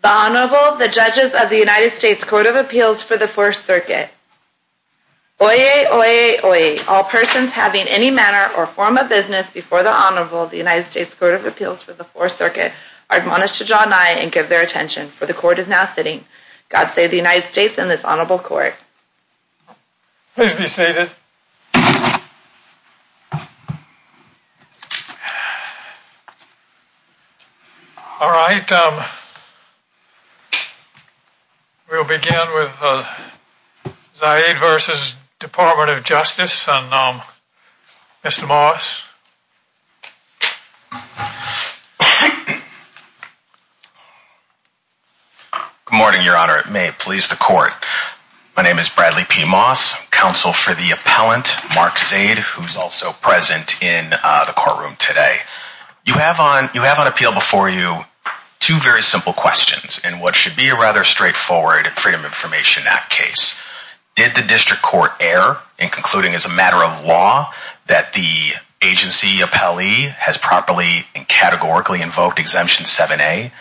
The Honorable, the Judges of the United States Court of Appeals for the Fourth Circuit. Oyez! Oyez! Oyez! All persons having any manner or form of business before the Honorable of the United States Court of Appeals for the Fourth Circuit are admonished to draw nigh and give their attention, for the Court is now sitting. God save the United States and this Honorable Court. Please be seated. All right, we'll begin with Zaid v. Department of Justice and Mr. Morris. Good morning, Your Honor. It may please the Court. My name is Bradley P. Moss, counsel for the appellant, Mark Zaid, who's also present in the courtroom today. You have on appeal before you two very simple questions in what should be a rather straightforward Freedom of Information Act case. Did the District Court err in concluding as a matter of law that the agency appellee has properly and categorically invoked Exemption 7A?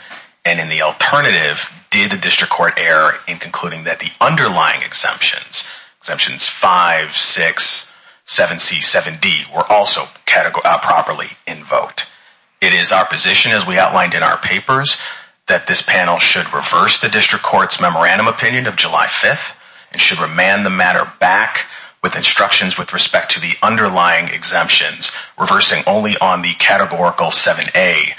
And in the alternative, did the District Court err in concluding that the underlying exemptions, Exemptions 5, 6, 7C, 7D, were also properly invoked? It is our position, as we outlined in our papers, that this panel should reverse the District Court's memorandum opinion of July 5th and should remand the matter back with instructions with respect to the underlying exemptions, reversing only on the categorical 7A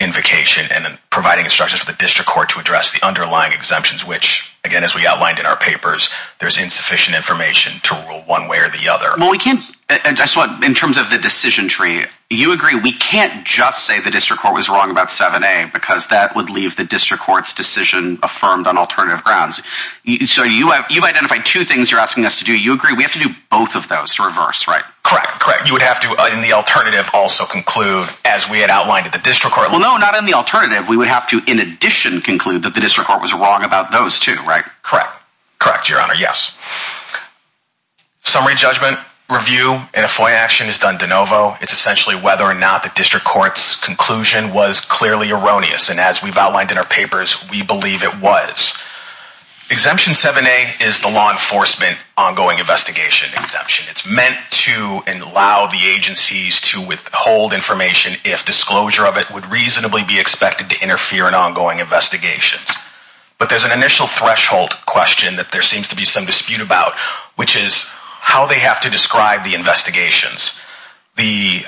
invocation and providing instructions for the District Court to address the underlying exemptions, which, again, as we outlined in our papers, there's insufficient information to rule one way or the other. In terms of the decision tree, you agree we can't just say the District Court was wrong about 7A because that would leave the District Court's decision affirmed on alternative grounds. So you've identified two things you're asking us to do. You agree we have to do both of those to reverse, right? Correct, correct. You would have to, in the alternative, also conclude, as we had outlined in the District Court. Well, no, not in the alternative. We would have to, in addition, conclude that the District Court was wrong about those two, right? Correct, correct, Your Honor, yes. Summary judgment review in a FOIA action is done de novo. It's essentially whether or not the District Court's conclusion was clearly erroneous, and as we've outlined in our papers, we believe it was. Exemption 7A is the law enforcement ongoing investigation exemption. It's meant to allow the agencies to withhold information if disclosure of it would reasonably be expected to interfere in ongoing investigations. But there's an initial threshold question that there seems to be some dispute about, which is how they have to describe the investigations. The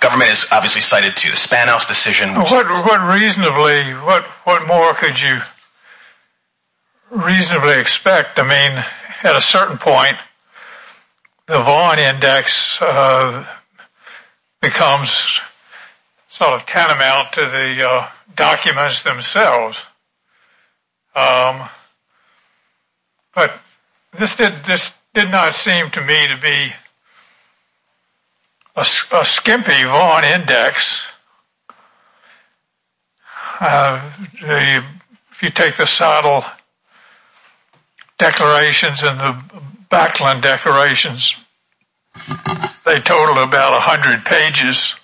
government is obviously cited to the Spanos decision. What more could you reasonably expect? I mean, at a certain point, the Vaughan Index becomes sort of tantamount to the documents themselves. But this did not seem to me to be a skimpy Vaughan Index. If you take the Seidel declarations and the Backland declarations, they totaled about 100 pages,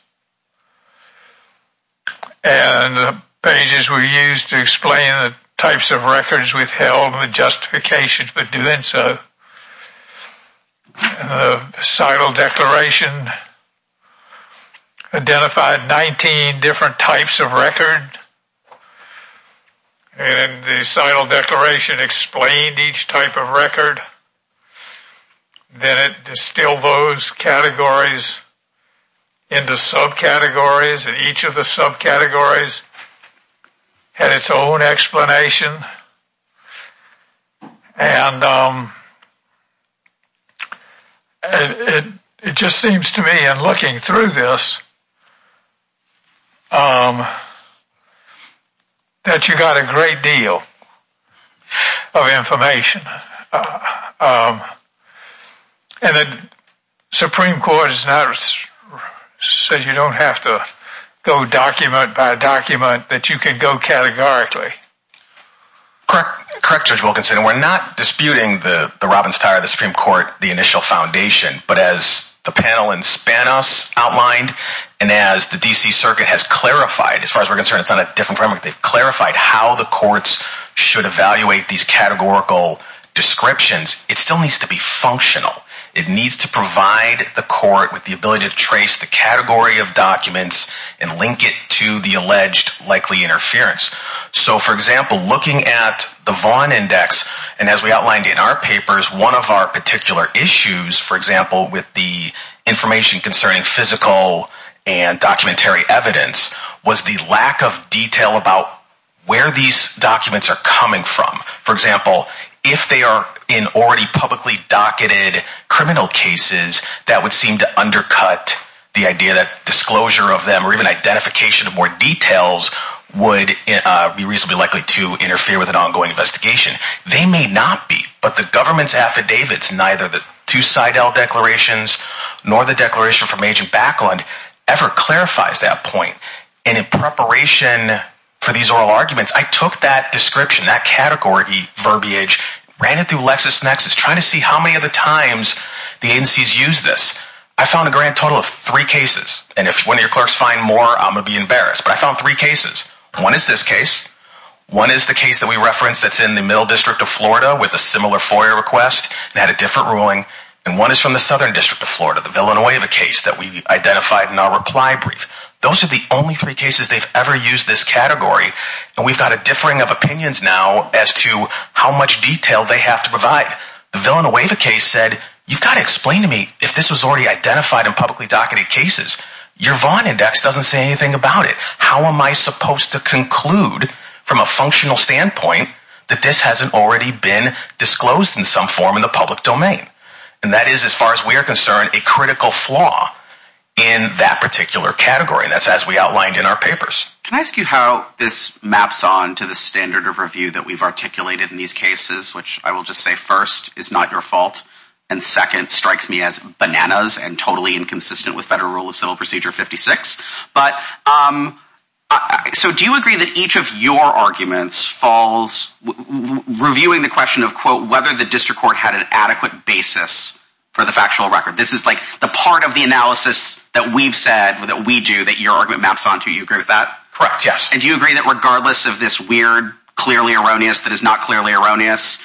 and the pages were used to explain the types of records withheld and the justifications for doing so. The Seidel declaration identified 19 different types of record, and the Seidel declaration explained each type of record. Then it distilled those categories into subcategories, and each of the subcategories had its own explanation, and it just seems to me in looking through this that you got a great deal of information. And the Supreme Court has not said you don't have to go document by document, that you can go categorically. Correct, Judge Wilkinson. We're not disputing the Robbins-Tyra, the Supreme Court, the initial foundation. But as the panel in Spanos outlined, and as the D.C. Circuit has clarified, as far as we're concerned, it's not a different framework. They've clarified how the courts should evaluate these categorical descriptions. It still needs to be functional. It needs to provide the court with the ability to trace the category of documents and link it to the alleged likely interference. So, for example, looking at the Vaughn Index, and as we outlined in our papers, one of our particular issues, for example, with the information concerning physical and documentary evidence was the lack of detail about where these documents are coming from. For example, if they are in already publicly docketed criminal cases, that would seem to undercut the idea that disclosure of them or even identification of more details would be reasonably likely to interfere with an ongoing investigation. They may not be, but the government's affidavits, neither the two Seidel declarations nor the declaration from Agent Backlund ever clarifies that point. And in preparation for these oral arguments, I took that description, that category verbiage, ran it through LexisNexis, trying to see how many of the times the agencies use this. I found a grand total of three cases, and if one of your clerks find more, I'm going to be embarrassed, but I found three cases. One is this case. One is the case that we referenced that's in the Middle District of Florida with a similar FOIA request and had a different ruling. And one is from the Southern District of Florida, the Villanova case that we identified in our reply brief. Those are the only three cases they've ever used this category, and we've got a differing of opinions now as to how much detail they have to provide. The Villanova case said, you've got to explain to me if this was already identified in publicly docketed cases. Your Vaughn Index doesn't say anything about it. How am I supposed to conclude from a functional standpoint that this hasn't already been disclosed in some form in the public domain? And that is, as far as we are concerned, a critical flaw in that particular category, and that's as we outlined in our papers. Can I ask you how this maps on to the standard of review that we've articulated in these cases? Which I will just say, first, is not your fault, and second, strikes me as bananas and totally inconsistent with Federal Rule of Civil Procedure 56. But, so do you agree that each of your arguments falls, reviewing the question of, quote, whether the district court had an adequate basis for the factual record? This is like the part of the analysis that we've said, that we do, that your argument maps on to. Do you agree with that? Correct, yes. And do you agree that regardless of this weird, clearly erroneous, that is not clearly erroneous,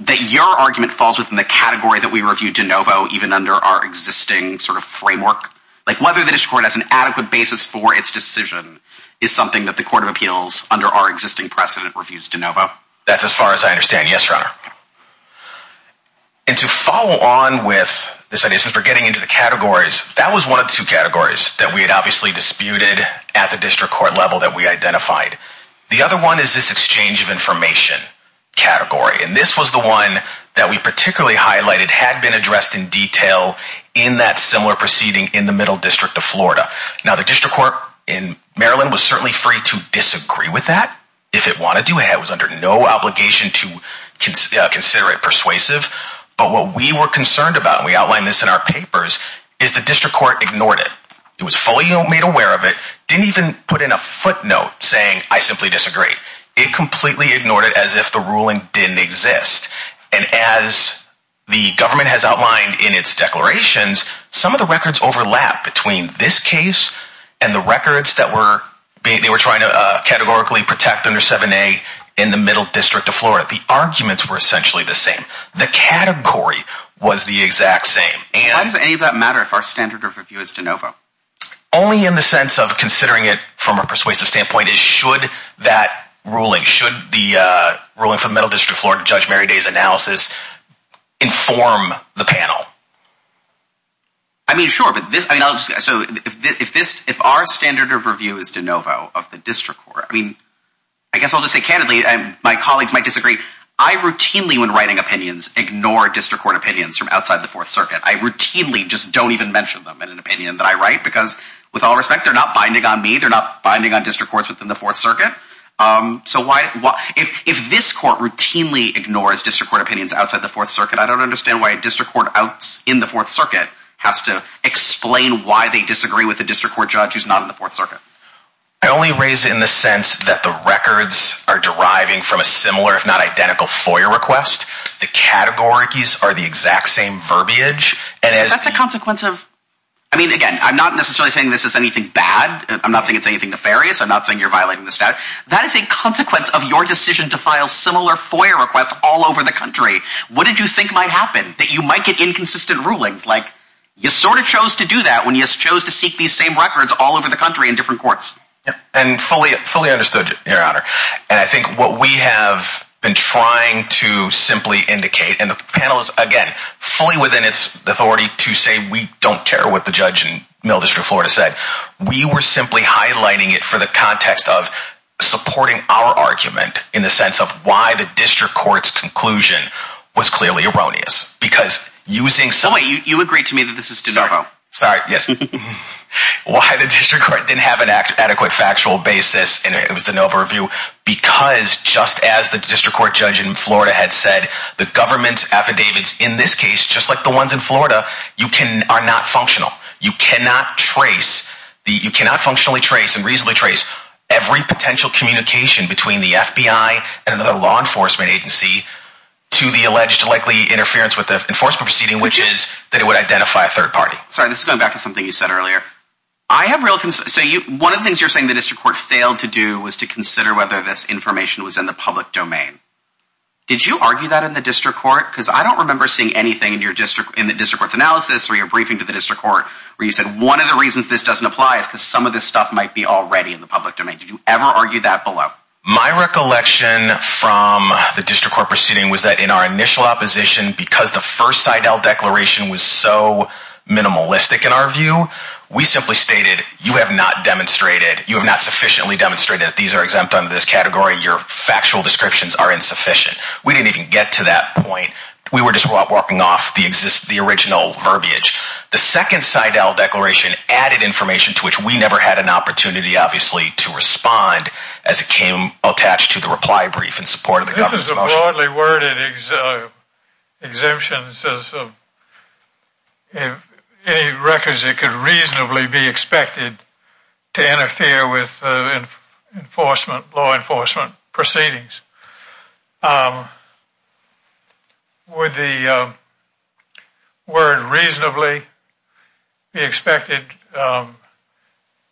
that your argument falls within the category that we reviewed de novo, even under our existing sort of framework? Like, whether the district court has an adequate basis for its decision is something that the Court of Appeals, under our existing precedent, reviews de novo? That's as far as I understand, yes, Your Honor. And to follow on with this idea, since we're getting into the categories, that was one of two categories that we had obviously disputed at the district court level that we identified. The other one is this exchange of information category. And this was the one that we particularly highlighted, had been addressed in detail in that similar proceeding in the Middle District of Florida. Now, the district court in Maryland was certainly free to disagree with that, if it wanted to. It was under no obligation to consider it persuasive. But what we were concerned about, and we outlined this in our papers, is the district court ignored it. It was fully made aware of it, didn't even put in a footnote saying, I simply disagree. It completely ignored it as if the ruling didn't exist. And as the government has outlined in its declarations, some of the records overlap between this case and the records that they were trying to categorically protect under 7A in the Middle District of Florida. The arguments were essentially the same. The category was the exact same. Why does any of that matter if our standard of review is de novo? Only in the sense of considering it from a persuasive standpoint is should that ruling, should the ruling from the Middle District of Florida, Judge Mary Day's analysis, inform the panel. I mean, sure. If our standard of review is de novo of the district court, I guess I'll just say candidly, my colleagues might disagree. I routinely, when writing opinions, ignore district court opinions from outside the Fourth Circuit. I routinely just don't even mention them in an opinion that I write because, with all respect, they're not binding on me. They're not binding on district courts within the Fourth Circuit. If this court routinely ignores district court opinions outside the Fourth Circuit, I don't understand why a district court in the Fourth Circuit has to explain why they disagree with a district court judge who's not in the Fourth Circuit. I only raise it in the sense that the records are deriving from a similar, if not identical, FOIA request. The categories are the exact same verbiage. That's a consequence of... I mean, again, I'm not necessarily saying this is anything bad. I'm not saying it's anything nefarious. I'm not saying you're violating the statute. That is a consequence of your decision to file similar FOIA requests all over the country. What did you think might happen? That you might get inconsistent rulings? You sort of chose to do that when you chose to seek these same records all over the country in different courts. Fully understood, Your Honor. And I think what we have been trying to simply indicate, and the panel is, again, fully within its authority to say we don't care what the judge in Mill District, Florida, said. We were simply highlighting it for the context of supporting our argument in the sense of why the district court's conclusion was clearly erroneous. You agreed to me that this is de novo. Sorry, yes. Why the district court didn't have an adequate factual basis, and it was de novo review, because just as the district court judge in Florida had said, the government's affidavits in this case, just like the ones in Florida, are not functional. You cannot trace, you cannot functionally trace and reasonably trace every potential communication between the FBI and the law enforcement agency to the alleged likely interference with the enforcement proceeding, which is that it would identify a third party. Sorry, this is going back to something you said earlier. I have real, so one of the things you're saying the district court failed to do was to consider whether this information was in the public domain. Did you argue that in the district court? Because I don't remember seeing anything in the district court's analysis or your briefing to the district court where you said one of the reasons this doesn't apply is because some of this stuff might be already in the public domain. Did you ever argue that below? My recollection from the district court proceeding was that in our initial opposition, because the first Seidel declaration was so minimalistic in our view, we simply stated, you have not demonstrated, you have not sufficiently demonstrated that these are exempt under this category, your factual descriptions are insufficient. We didn't even get to that point. We were just walking off the original verbiage. The second Seidel declaration added information to which we never had an opportunity, obviously, to respond as it came attached to the reply brief in support of the government's motion. This is a broadly worded exemption. My question is, if any records that could reasonably be expected to interfere with enforcement, law enforcement proceedings, would the word reasonably be expected?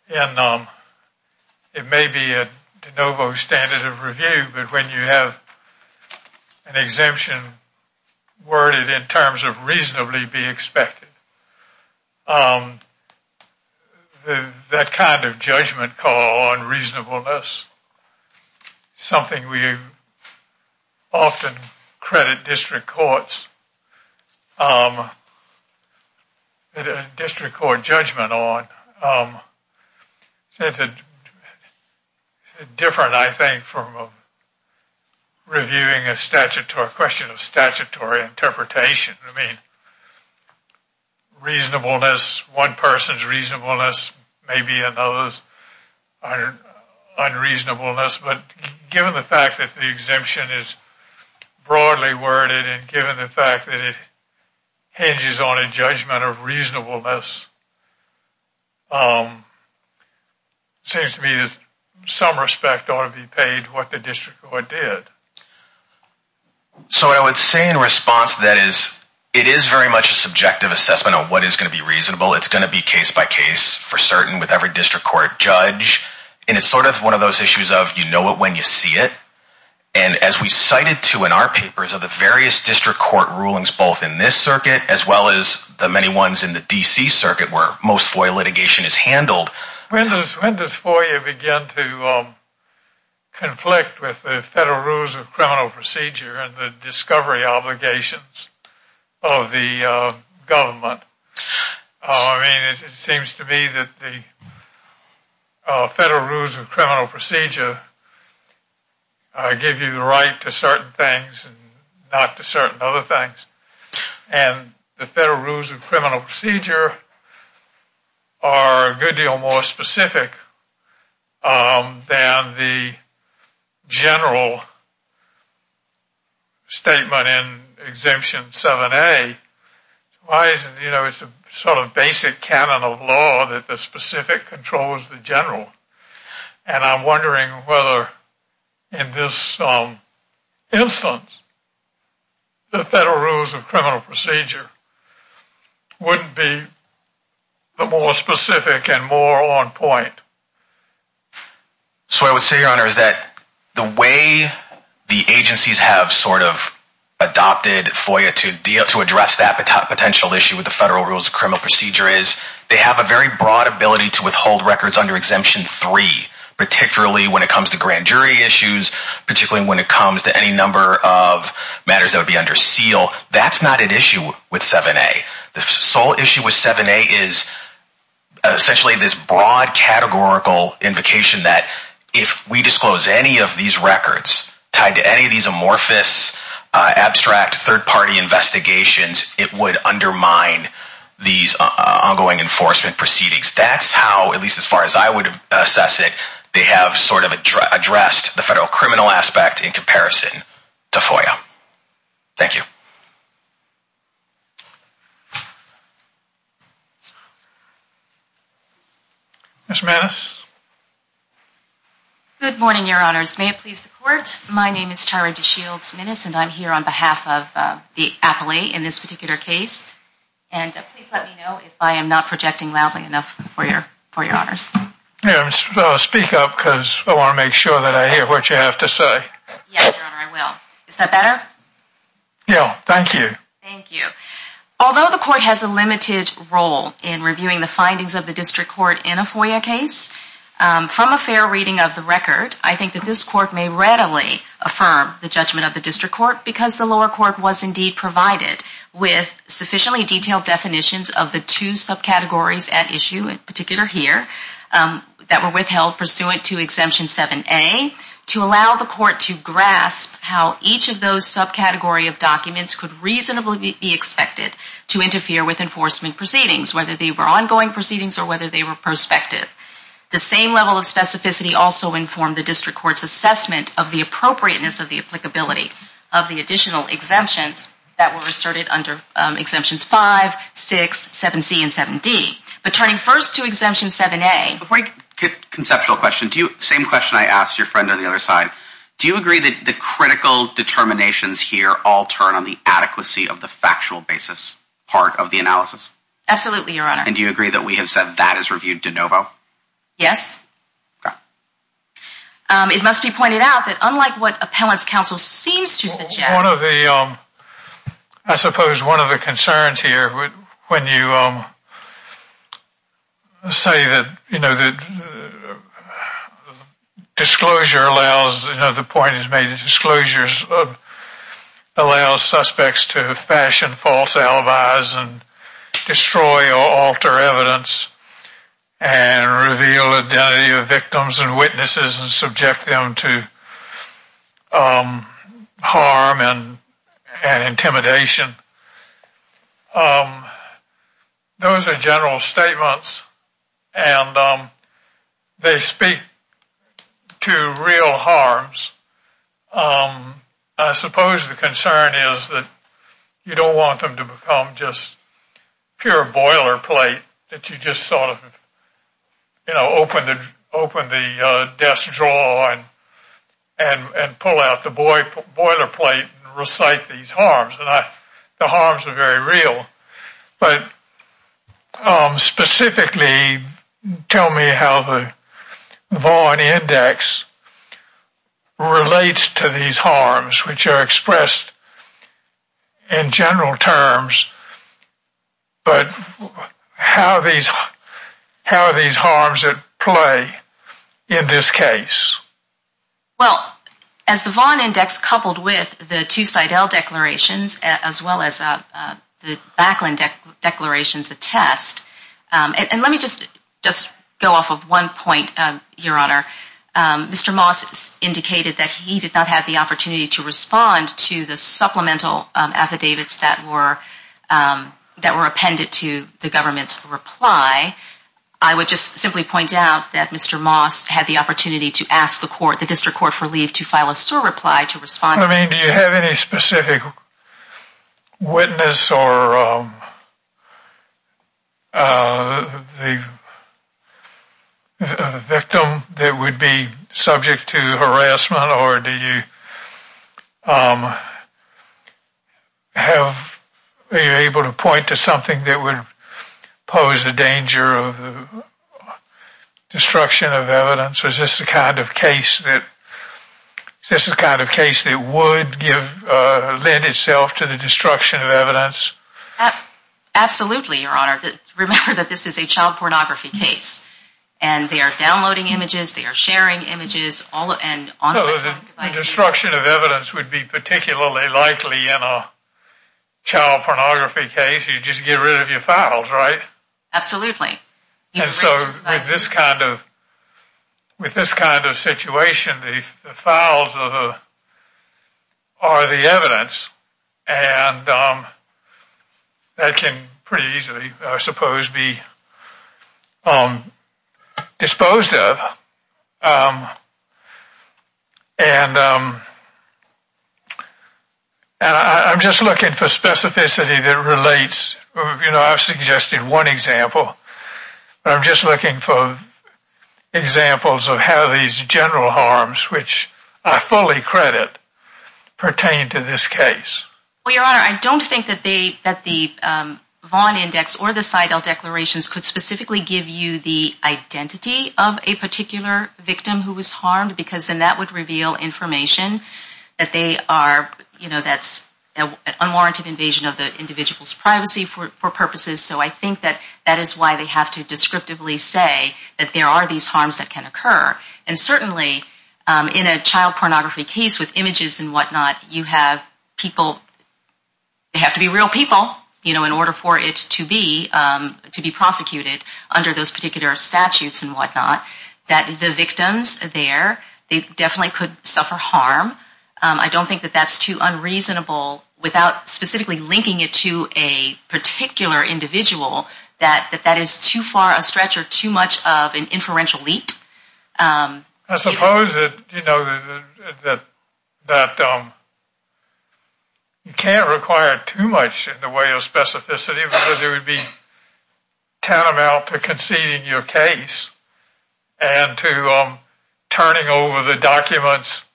It may be a de novo standard of review, but when you have an exemption worded in terms of reasonably be expected, that kind of judgment call on reasonableness is something we often credit district courts, district court judgment on. It is different, I think, from reviewing a question of statutory interpretation. I mean, reasonableness, one person's reasonableness may be another's unreasonableness, but given the fact that the exemption is broadly worded and given the fact that it hinges on a judgment of reasonableness, it seems to me that some respect ought to be paid to what the district court did. So what I would say in response to that is, it is very much a subjective assessment of what is going to be reasonable. It's going to be case by case for certain with every district court judge, and it's sort of one of those issues of you know it when you see it. And as we cited to in our papers of the various district court rulings, both in this circuit as well as the many ones in the D.C. circuit where most FOIA litigation is handled. When does FOIA begin to conflict with the Federal Rules of Criminal Procedure and the discovery obligations of the government? I mean, it seems to me that the Federal Rules of Criminal Procedure give you the right to certain things and not to certain other things, and the Federal Rules of Criminal Procedure are a good deal more specific than the general statement in Exemption 7A. It's a sort of basic canon of law that the specific controls the general. And I'm wondering whether in this instance, the Federal Rules of Criminal Procedure wouldn't be the more specific and more on point. So I would say, Your Honor, is that the way the agencies have sort of adopted FOIA to address that potential issue with the Federal Rules of Criminal Procedure is they have a very broad ability to withhold records under Exemption 3, particularly when it comes to grand jury issues, particularly when it comes to any number of matters that would be under seal. That's not an issue with 7A. The sole issue with 7A is essentially this broad categorical invocation that if we disclose any of these records tied to any of these amorphous, abstract third-party investigations, it would undermine these ongoing enforcement proceedings. That's how, at least as far as I would assess it, they have sort of addressed the federal criminal aspect in comparison to FOIA. Thank you. Ms. Minnis. Good morning, Your Honors. May it please the Court, my name is Tyra DeShields Minnis, and I'm here on behalf of the appellee in this particular case. And please let me know if I am not projecting loudly enough for Your Honors. Speak up, because I want to make sure that I hear what you have to say. Yes, Your Honor, I will. Is that better? Yes, thank you. Thank you. Although the Court has a limited role in reviewing the findings of the District Court in a FOIA case, from a fair reading of the record, I think that this Court may readily affirm the judgment of the District Court because the lower court was indeed provided with sufficiently detailed definitions of the two subcategories at issue, in particular here, that were withheld pursuant to Exemption 7A, to allow the Court to grasp how each of those subcategory of documents could reasonably be expected to interfere with enforcement proceedings, whether they were ongoing proceedings or whether they were prospective. The same level of specificity also informed the District Court's assessment of the appropriateness of the applicability of the additional exemptions that were asserted under Exemptions 5, 6, 7C, and 7D. But turning first to Exemption 7A... Before I get to the conceptual question, same question I asked your friend on the other side. Do you agree that the critical determinations here all turn on the adequacy of the factual basis part of the analysis? Absolutely, Your Honor. And do you agree that we have said that is reviewed de novo? Yes. Okay. It must be pointed out that unlike what Appellants' Counsel seems to suggest... I suppose one of the concerns here, when you say that disclosure allows... ...and intimidation, those are general statements and they speak to real harms. I suppose the concern is that you don't want them to become just pure boilerplate that you just sort of open the desk drawer and pull out the boilerplate and recite these harms. The harms are very real. But specifically, tell me how the Vaughan Index relates to these harms, which are expressed in general terms. But how are these harms at play in this case? Well, as the Vaughan Index coupled with the two Seidel declarations as well as the Backland declarations attest... And let me just go off of one point, Your Honor. Mr. Moss indicated that he did not have the opportunity to respond to the supplemental affidavits that were appended to the government's reply. I would just simply point out that Mr. Moss had the opportunity to ask the District Court for leave to file a SOAR reply to respond... I mean, do you have any specific witness or the victim that would be subject to harassment? Or do you have... Are you able to point to something that would pose a danger of destruction of evidence? Or is this the kind of case that would lend itself to the destruction of evidence? Absolutely, Your Honor. Remember that this is a child pornography case. And they are downloading images, they are sharing images on electronic devices. So the destruction of evidence would be particularly likely in a child pornography case. You'd just get rid of your files, right? Absolutely. And so with this kind of situation, the files are the evidence. And that can pretty easily, I suppose, be disposed of. And I'm just looking for specificity that relates... You know, I've suggested one example. I'm just looking for examples of how these general harms, which I fully credit, pertain to this case. Well, Your Honor, I don't think that the Vaughn Index or the Seidel Declarations could specifically give you the identity of a particular victim who was harmed. Because then that would reveal information that they are... You know, that's an unwarranted invasion of the individual's privacy for purposes. So I think that that is why they have to descriptively say that there are these harms that can occur. And certainly in a child pornography case with images and whatnot, you have people... They have to be real people, you know, in order for it to be prosecuted under those particular statutes and whatnot. That the victims there, they definitely could suffer harm. I don't think that that's too unreasonable without specifically linking it to a particular individual, that that is too far a stretch or too much of an inferential leap. I suppose that, you know, that you can't require too much in the way of specificity, because it would be tantamount to conceding your case and to turning over the documents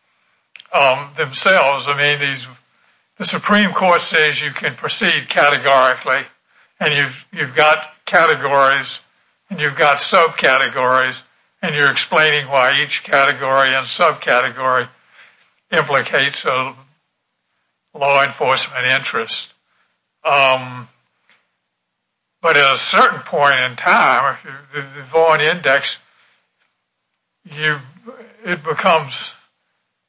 themselves. I mean, the Supreme Court says you can proceed categorically, and you've got categories and you've got subcategories, and you're explaining why each category and subcategory implicates a law enforcement interest. But at a certain point in time, the Vaughan Index, it becomes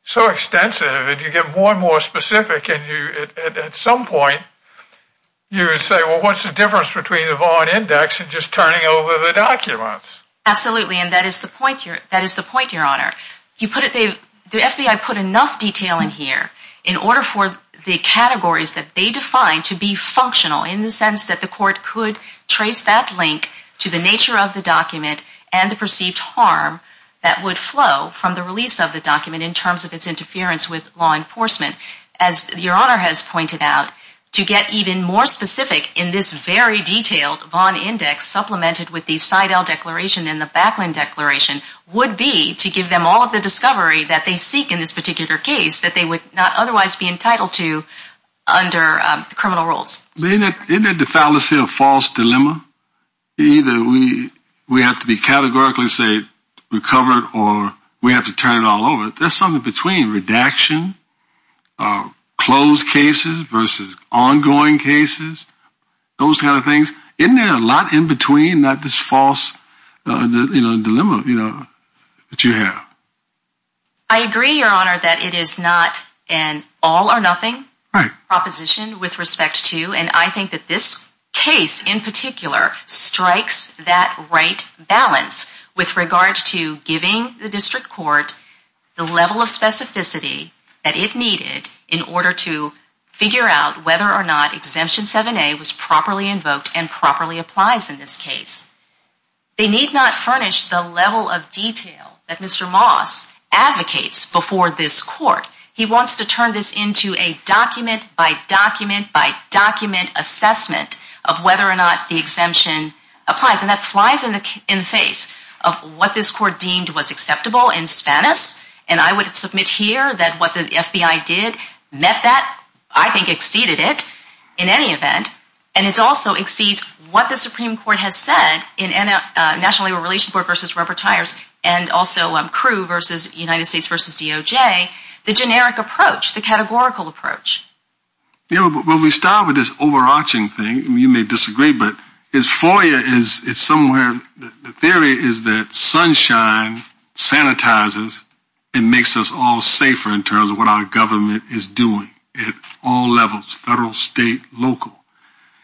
so extensive that you get more and more specific, and at some point you say, well, what's the difference between the Vaughan Index and just turning over the documents? Absolutely, and that is the point, Your Honor. The FBI put enough detail in here in order for the categories that they define to be functional, in the sense that the court could trace that link to the nature of the document and the perceived harm that would flow from the release of the document in terms of its interference with law enforcement. As Your Honor has pointed out, to get even more specific in this very detailed Vaughan Index supplemented with the Seidel Declaration and the Backland Declaration would be to give them all of the discovery that they seek in this particular case that they would not otherwise be entitled to under criminal rules. Isn't that the fallacy of false dilemma? Either we have to be categorically, say, recovered or we have to turn it all over. There's something between redaction, closed cases versus ongoing cases, those kind of things. Isn't there a lot in between, not this false dilemma that you have? I agree, Your Honor, that it is not an all or nothing proposition with respect to, and I think that this case in particular strikes that right balance with regard to giving the district court the level of specificity that it needed in order to figure out whether or not Exemption 7A was properly invoked and properly applies in this case. They need not furnish the level of detail that Mr. Moss advocates before this court. He wants to turn this into a document-by-document-by-document assessment of whether or not the exemption applies. And that flies in the face of what this court deemed was acceptable in Spanis, and I would submit here that what the FBI did met that, I think exceeded it in any event, and it also exceeds what the Supreme Court has said in National Labor Relations Board versus rubber tires and also CRU versus United States versus DOJ, the generic approach, the categorical approach. Well, we start with this overarching thing, and you may disagree, but this FOIA is somewhere, the theory is that sunshine sanitizes and makes us all safer in terms of what our government is doing at all levels, federal, state, local.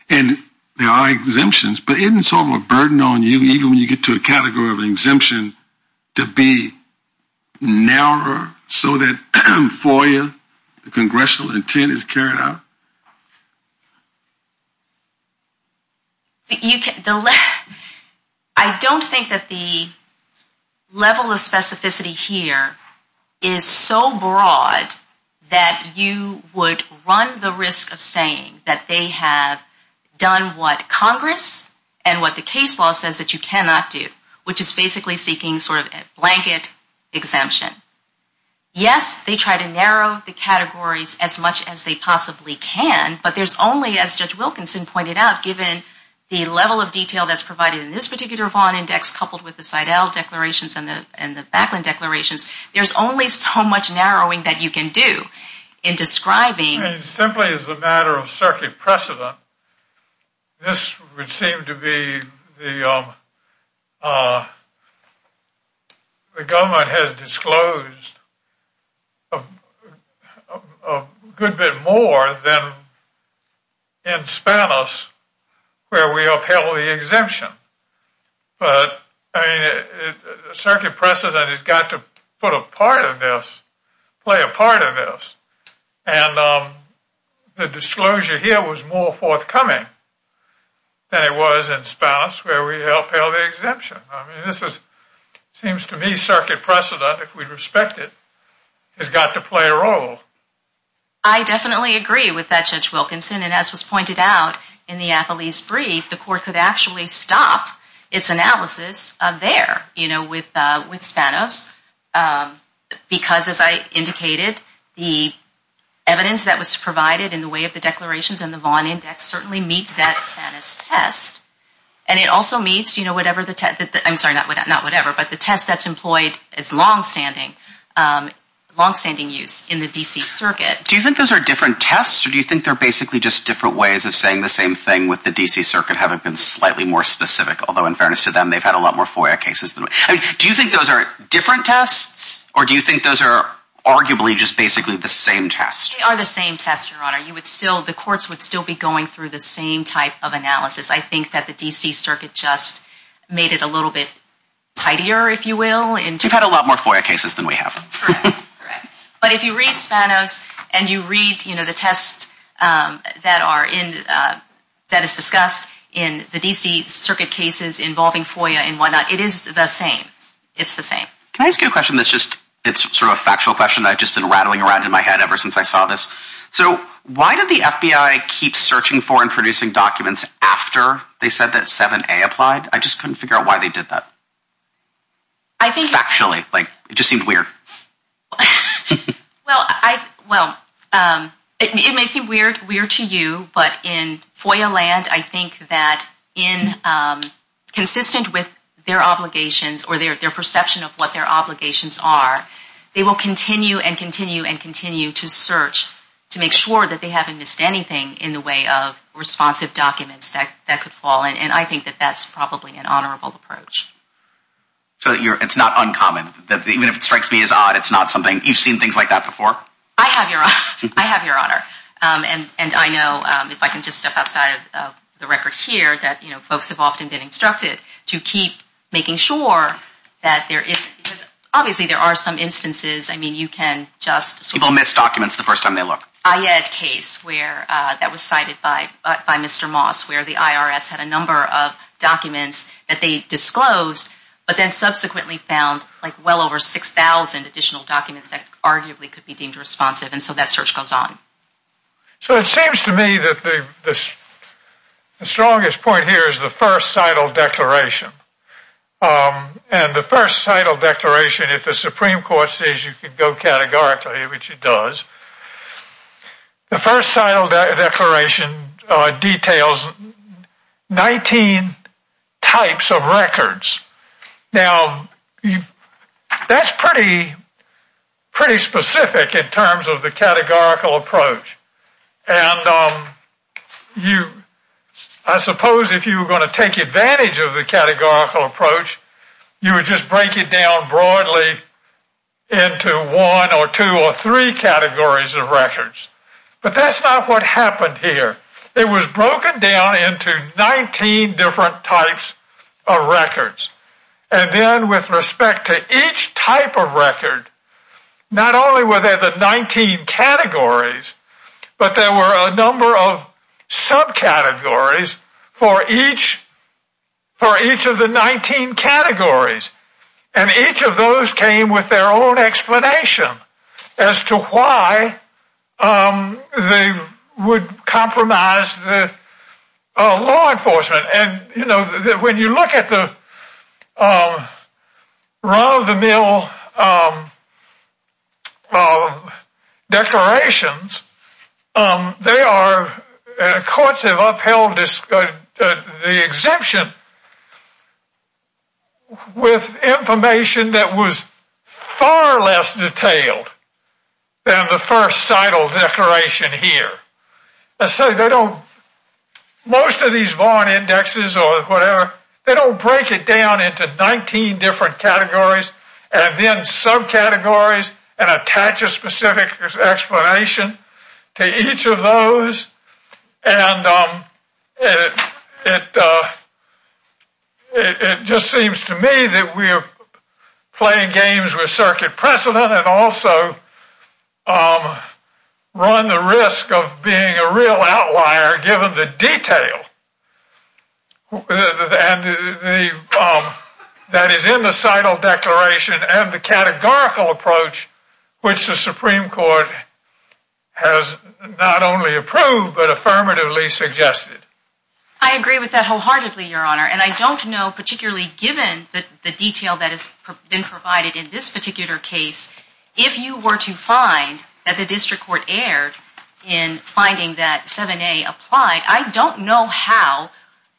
And there are exemptions, but isn't it sort of a burden on you, even when you get to a category of an exemption, to be narrower so that FOIA, the congressional intent, is carried out? I don't think that the level of specificity here is so broad that you would run the risk of saying that they have done what Congress and what the case law says that you cannot do, which is basically seeking sort of a blanket exemption. Yes, they try to narrow the categories as much as they possibly can, but there's only, as Judge Wilkinson pointed out, given the level of detail that's provided in this particular Vaughn Index coupled with the Seidel declarations and the Backland declarations, there's only so much narrowing that you can do in describing. I mean, simply as a matter of circuit precedent, this would seem to be the government has disclosed a good bit more than in Spanos where we upheld the exemption. But, I mean, circuit precedent has got to put a part of this, play a part of this. And the disclosure here was more forthcoming than it was in Spanos where we upheld the exemption. I mean, this seems to me circuit precedent, if we respect it, has got to play a role. I definitely agree with that, Judge Wilkinson. And as was pointed out in the Afflees brief, the court could actually stop its analysis there with Spanos because, as I indicated, the evidence that was provided in the way of the declarations and the Vaughn Index certainly meet that Spanos test. And it also meets, you know, whatever the test, I'm sorry, not whatever, but the test that's employed, it's longstanding, longstanding use in the D.C. Circuit. Do you think those are different tests or do you think they're basically just different ways of saying the same thing with the D.C. Circuit having been slightly more specific? Although, in fairness to them, they've had a lot more FOIA cases. Do you think those are different tests or do you think those are arguably just basically the same test? They are the same test, Your Honor. The courts would still be going through the same type of analysis. I think that the D.C. Circuit just made it a little bit tidier, if you will. We've had a lot more FOIA cases than we have. Correct, correct. But if you read Spanos and you read, you know, the tests that are in, that is discussed in the D.C. Circuit cases involving FOIA and whatnot, it is the same. It's the same. Can I ask you a question that's just, it's sort of a factual question that I've just been rattling around in my head ever since I saw this? So why did the FBI keep searching for and producing documents after they said that 7A applied? I just couldn't figure out why they did that. Factually. It just seemed weird. Well, it may seem weird to you, but in FOIA land, I think that consistent with their obligations or their perception of what their obligations are, they will continue and continue and continue to search to make sure that they haven't missed anything in the way of responsive documents that could fall. And I think that that's probably an honorable approach. So it's not uncommon, that even if it strikes me as odd, it's not something, you've seen things like that before? I have, Your Honor. I have, Your Honor. And I know, if I can just step outside of the record here, that, you know, folks have often been instructed to keep making sure that there is, because obviously there are some instances, I mean, you can just... People miss documents the first time they look. I had a case where, that was cited by Mr. Moss, where the IRS had a number of documents that they disclosed, but then subsequently found, like, well over 6,000 additional documents that arguably could be deemed responsive. And so that search goes on. So it seems to me that the strongest point here is the first cital declaration. And the first cital declaration, if the Supreme Court says you can go categorically, which it does, the first cital declaration details 19 types of records. Now, that's pretty specific in terms of the categorical approach. And I suppose if you were going to take advantage of the categorical approach, you would just break it down broadly into one or two or three categories of records. But that's not what happened here. It was broken down into 19 different types of records. And then with respect to each type of record, not only were there the 19 categories, but there were a number of subcategories for each of the 19 categories. And each of those came with their own explanation as to why they would compromise law enforcement. And, you know, when you look at the run-of-the-mill declarations, they are courts have upheld the exemption with information that was far less detailed than the first cital declaration here. And so they don't, most of these Vaughan indexes or whatever, they don't break it down into 19 different categories and then subcategories and attach a specific explanation to each of those. And it just seems to me that we are playing games with circuit precedent and also run the risk of being a real outlier given the detail that is in the cital declaration and the categorical approach which the Supreme Court has not only approved, but affirmatively suggested. I agree with that wholeheartedly, Your Honor. And I don't know, particularly given the detail that has been provided in this particular case, if you were to find that the district court erred in finding that 7A applied, I don't know how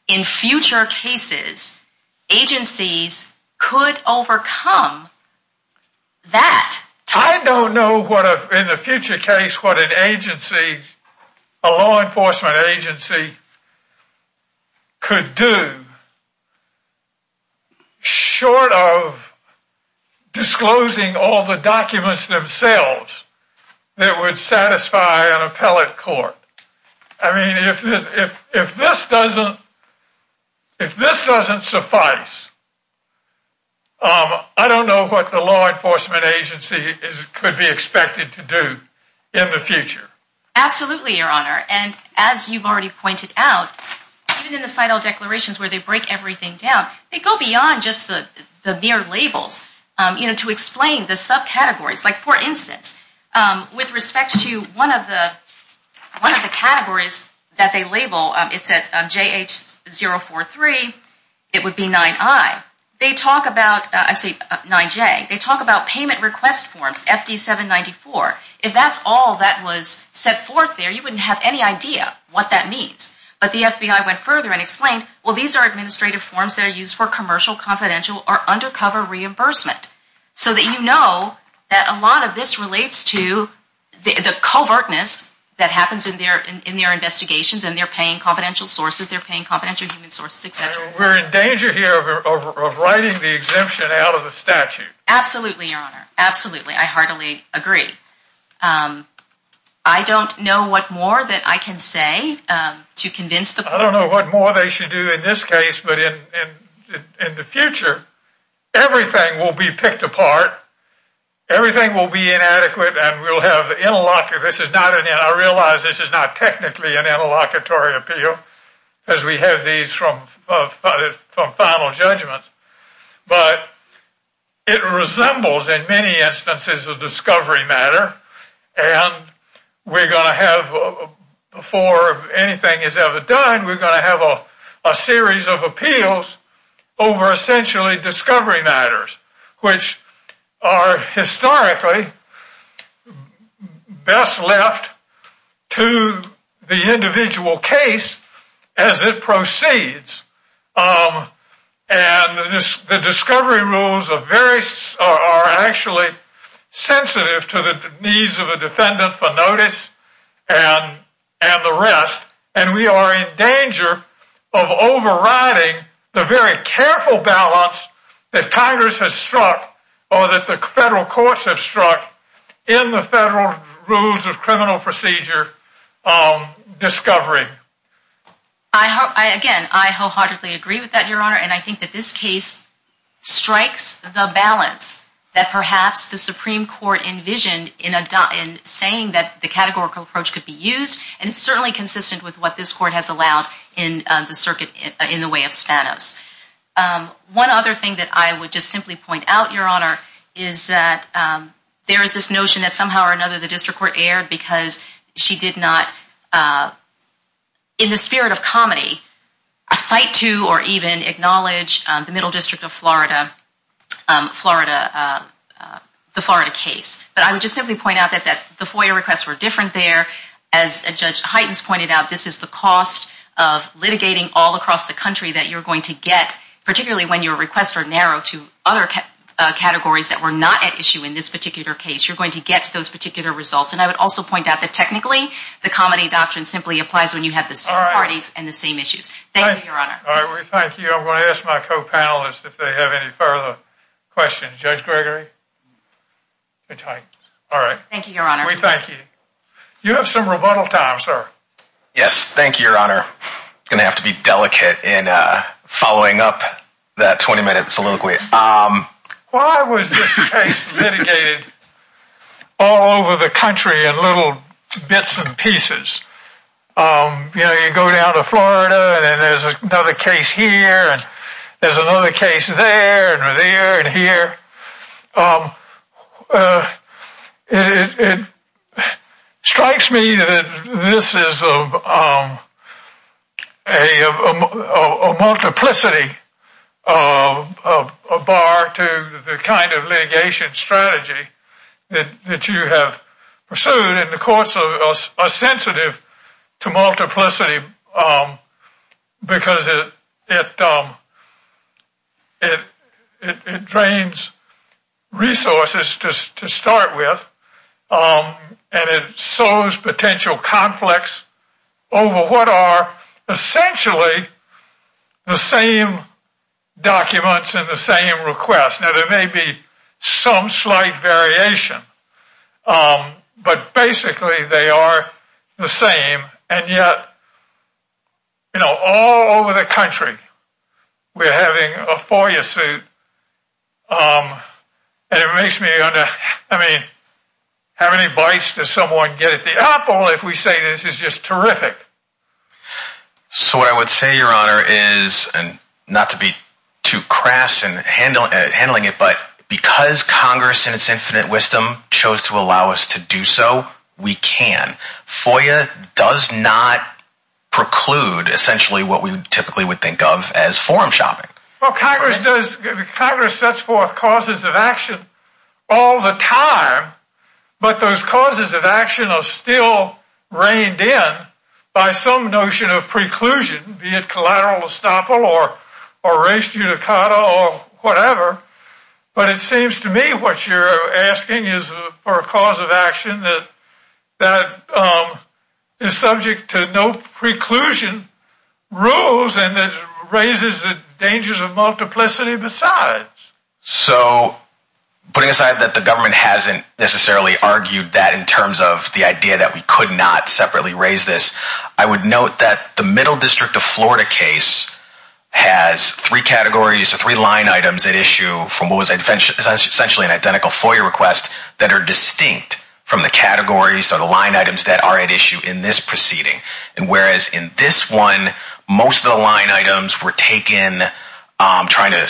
in future cases agencies could overcome that. I don't know in the future case what an agency, a law enforcement agency, could do short of disclosing all the documents themselves that would satisfy an appellate court. I mean, if this doesn't suffice, I don't know what the law enforcement agency could be expected to do in the future. Absolutely, Your Honor. And as you've already pointed out, even in the cital declarations where they break everything down, they go beyond just the mere labels to explain the subcategories. Like, for instance, with respect to one of the categories that they label, it's at JH043, it would be 9I. They talk about, I'd say 9J, they talk about payment request forms, FD794. If that's all that was set forth there, you wouldn't have any idea what that means. But the FBI went further and explained, well, these are administrative forms that are used for commercial, and a lot of this relates to the covertness that happens in their investigations, and they're paying confidential sources, they're paying confidential human sources, etc. We're in danger here of writing the exemption out of the statute. Absolutely, Your Honor. Absolutely. I heartily agree. I don't know what more that I can say to convince the court. I don't know what more they should do in this case, but in the future, everything will be picked apart. Everything will be inadequate, and I realize this is not technically an interlocutory appeal, because we have these from final judgments, but it resembles in many instances a discovery matter, and we're going to have, before anything is ever done, we're going to have a series of appeals over essentially discovery matters, which are historically best left to the individual case as it proceeds. And the discovery rules are actually sensitive to the needs of a defendant for notice and the rest, and we are in danger of overriding the very careful balance that Congress has struck, or that the federal courts have struck, in the federal rules of criminal procedure discovery. Again, I wholeheartedly agree with that, Your Honor, and I think that this case strikes the balance that perhaps the Supreme Court envisioned in saying that the categorical approach could be used, and it's certainly consistent with what this court has allowed in the way of Spanos. One other thing that I would just simply point out, Your Honor, is that there is this notion that somehow or another the district court erred because she did not, in the spirit of comedy, cite to or even acknowledge the Middle District of Florida case. But I would just simply point out that the FOIA requests were different there. As Judge Heitens pointed out, this is the cost of litigating all across the country that you're going to get, particularly when your requests are narrow to other categories that were not at issue in this particular case. You're going to get those particular results, and I would also point out that technically, the comedy doctrine simply applies when you have the same parties and the same issues. Thank you, Your Honor. Thank you. I'm going to ask my co-panelists if they have any further questions. Judge Gregory? All right. Thank you, Your Honor. We thank you. You have some rebuttal time, sir. Yes, thank you, Your Honor. I'm going to have to be delicate in following up that 20-minute soliloquy. Why was this case litigated all over the country in little bits and pieces? You know, you go down to Florida, and there's another case here, and there's another case there, and there, and here. It strikes me that this is a multiplicity, a bar to the kind of litigation strategy that you have pursued, and the courts are sensitive to multiplicity because it drains resources to start with, and it sows potential conflicts over what are essentially the same documents and the same requests. Now, there may be some slight variation, but basically, they are the same. And yet, you know, all over the country, we're having a FOIA suit. And it makes me, I mean, how many bites does someone get at the Apple if we say this is just terrific? So what I would say, Your Honor, is, and not to be too crass in handling it, but because Congress in its infinite wisdom chose to allow us to do so, we can. FOIA does not preclude essentially what we typically would think of as forum shopping. Well, Congress does. Congress sets forth causes of action all the time, but those causes of action are still reined in by some notion of preclusion, be it collateral estoppel or race judicata or whatever. But it seems to me what you're asking is for a cause of action that is subject to no preclusion rules and that raises the dangers of multiplicity besides. So, putting aside that the government hasn't necessarily argued that in terms of the idea that we could not separately raise this, I would note that the Middle District of Florida case has three categories or three line items at issue from what was essentially an identical FOIA request that are distinct from the categories or the line items that are at issue in this proceeding. And whereas in this one, most of the line items were taken trying to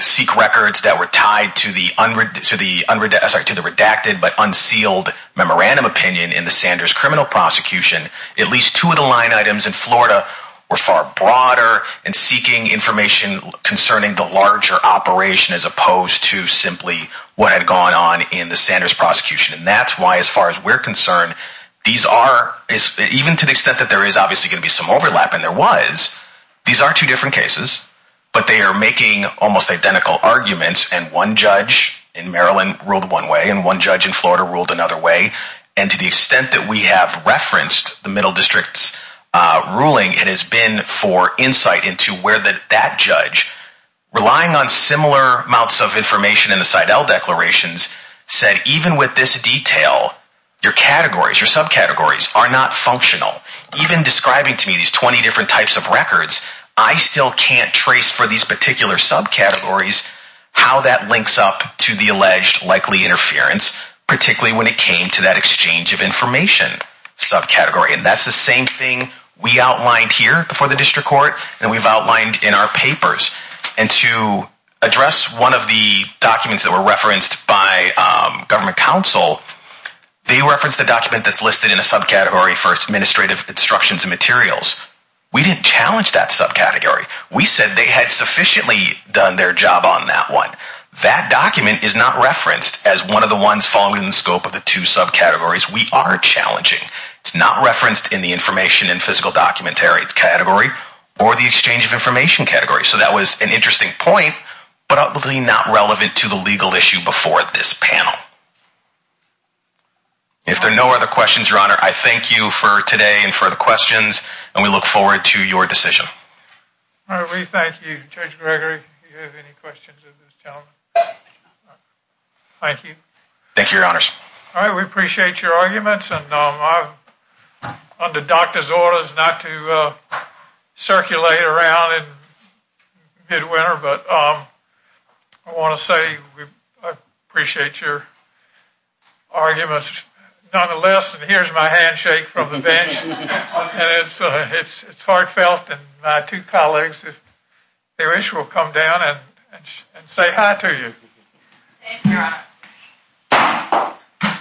seek records that were tied to the redacted but unsealed memorandum opinion in the Sanders criminal prosecution, at least two of the line items in Florida were far broader and seeking information concerning the larger operation as opposed to simply what had gone on in the Sanders prosecution. And that's why as far as we're concerned, even to the extent that there is obviously going to be some overlap, and there was, these are two different cases, but they are making almost identical arguments. And one judge in Maryland ruled one way and one judge in Florida ruled another way. And to the extent that we have referenced the Middle District's ruling, it has been for insight into where that judge, relying on similar amounts of information in the Seidel declarations, said even with this detail, your categories, your subcategories are not functional. Even describing to me these 20 different types of records, I still can't trace for these particular subcategories how that links up to the alleged likely interference, particularly when it came to that exchange of information subcategory. And that's the same thing we outlined here before the district court and we've outlined in our papers. And to address one of the documents that were referenced by government counsel, they referenced a document that's listed in a subcategory for administrative instructions and materials. We didn't challenge that subcategory. We said they had sufficiently done their job on that one. That document is not referenced as one of the ones following the scope of the two subcategories we are challenging. It's not referenced in the information and physical documentary category or the exchange of information category. So that was an interesting point, but obviously not relevant to the legal issue before this panel. If there are no other questions, Your Honor, I thank you for today and for the questions and we look forward to your decision. We thank you, Judge Gregory. Do you have any questions of this gentleman? Thank you. Thank you, Your Honors. All right. We appreciate your arguments. Under doctor's orders not to circulate around in midwinter, but I want to say I appreciate your arguments. Nonetheless, here's my handshake from the bench. It's heartfelt. And my two colleagues, if they wish, will come down and say hi to you. Thank you.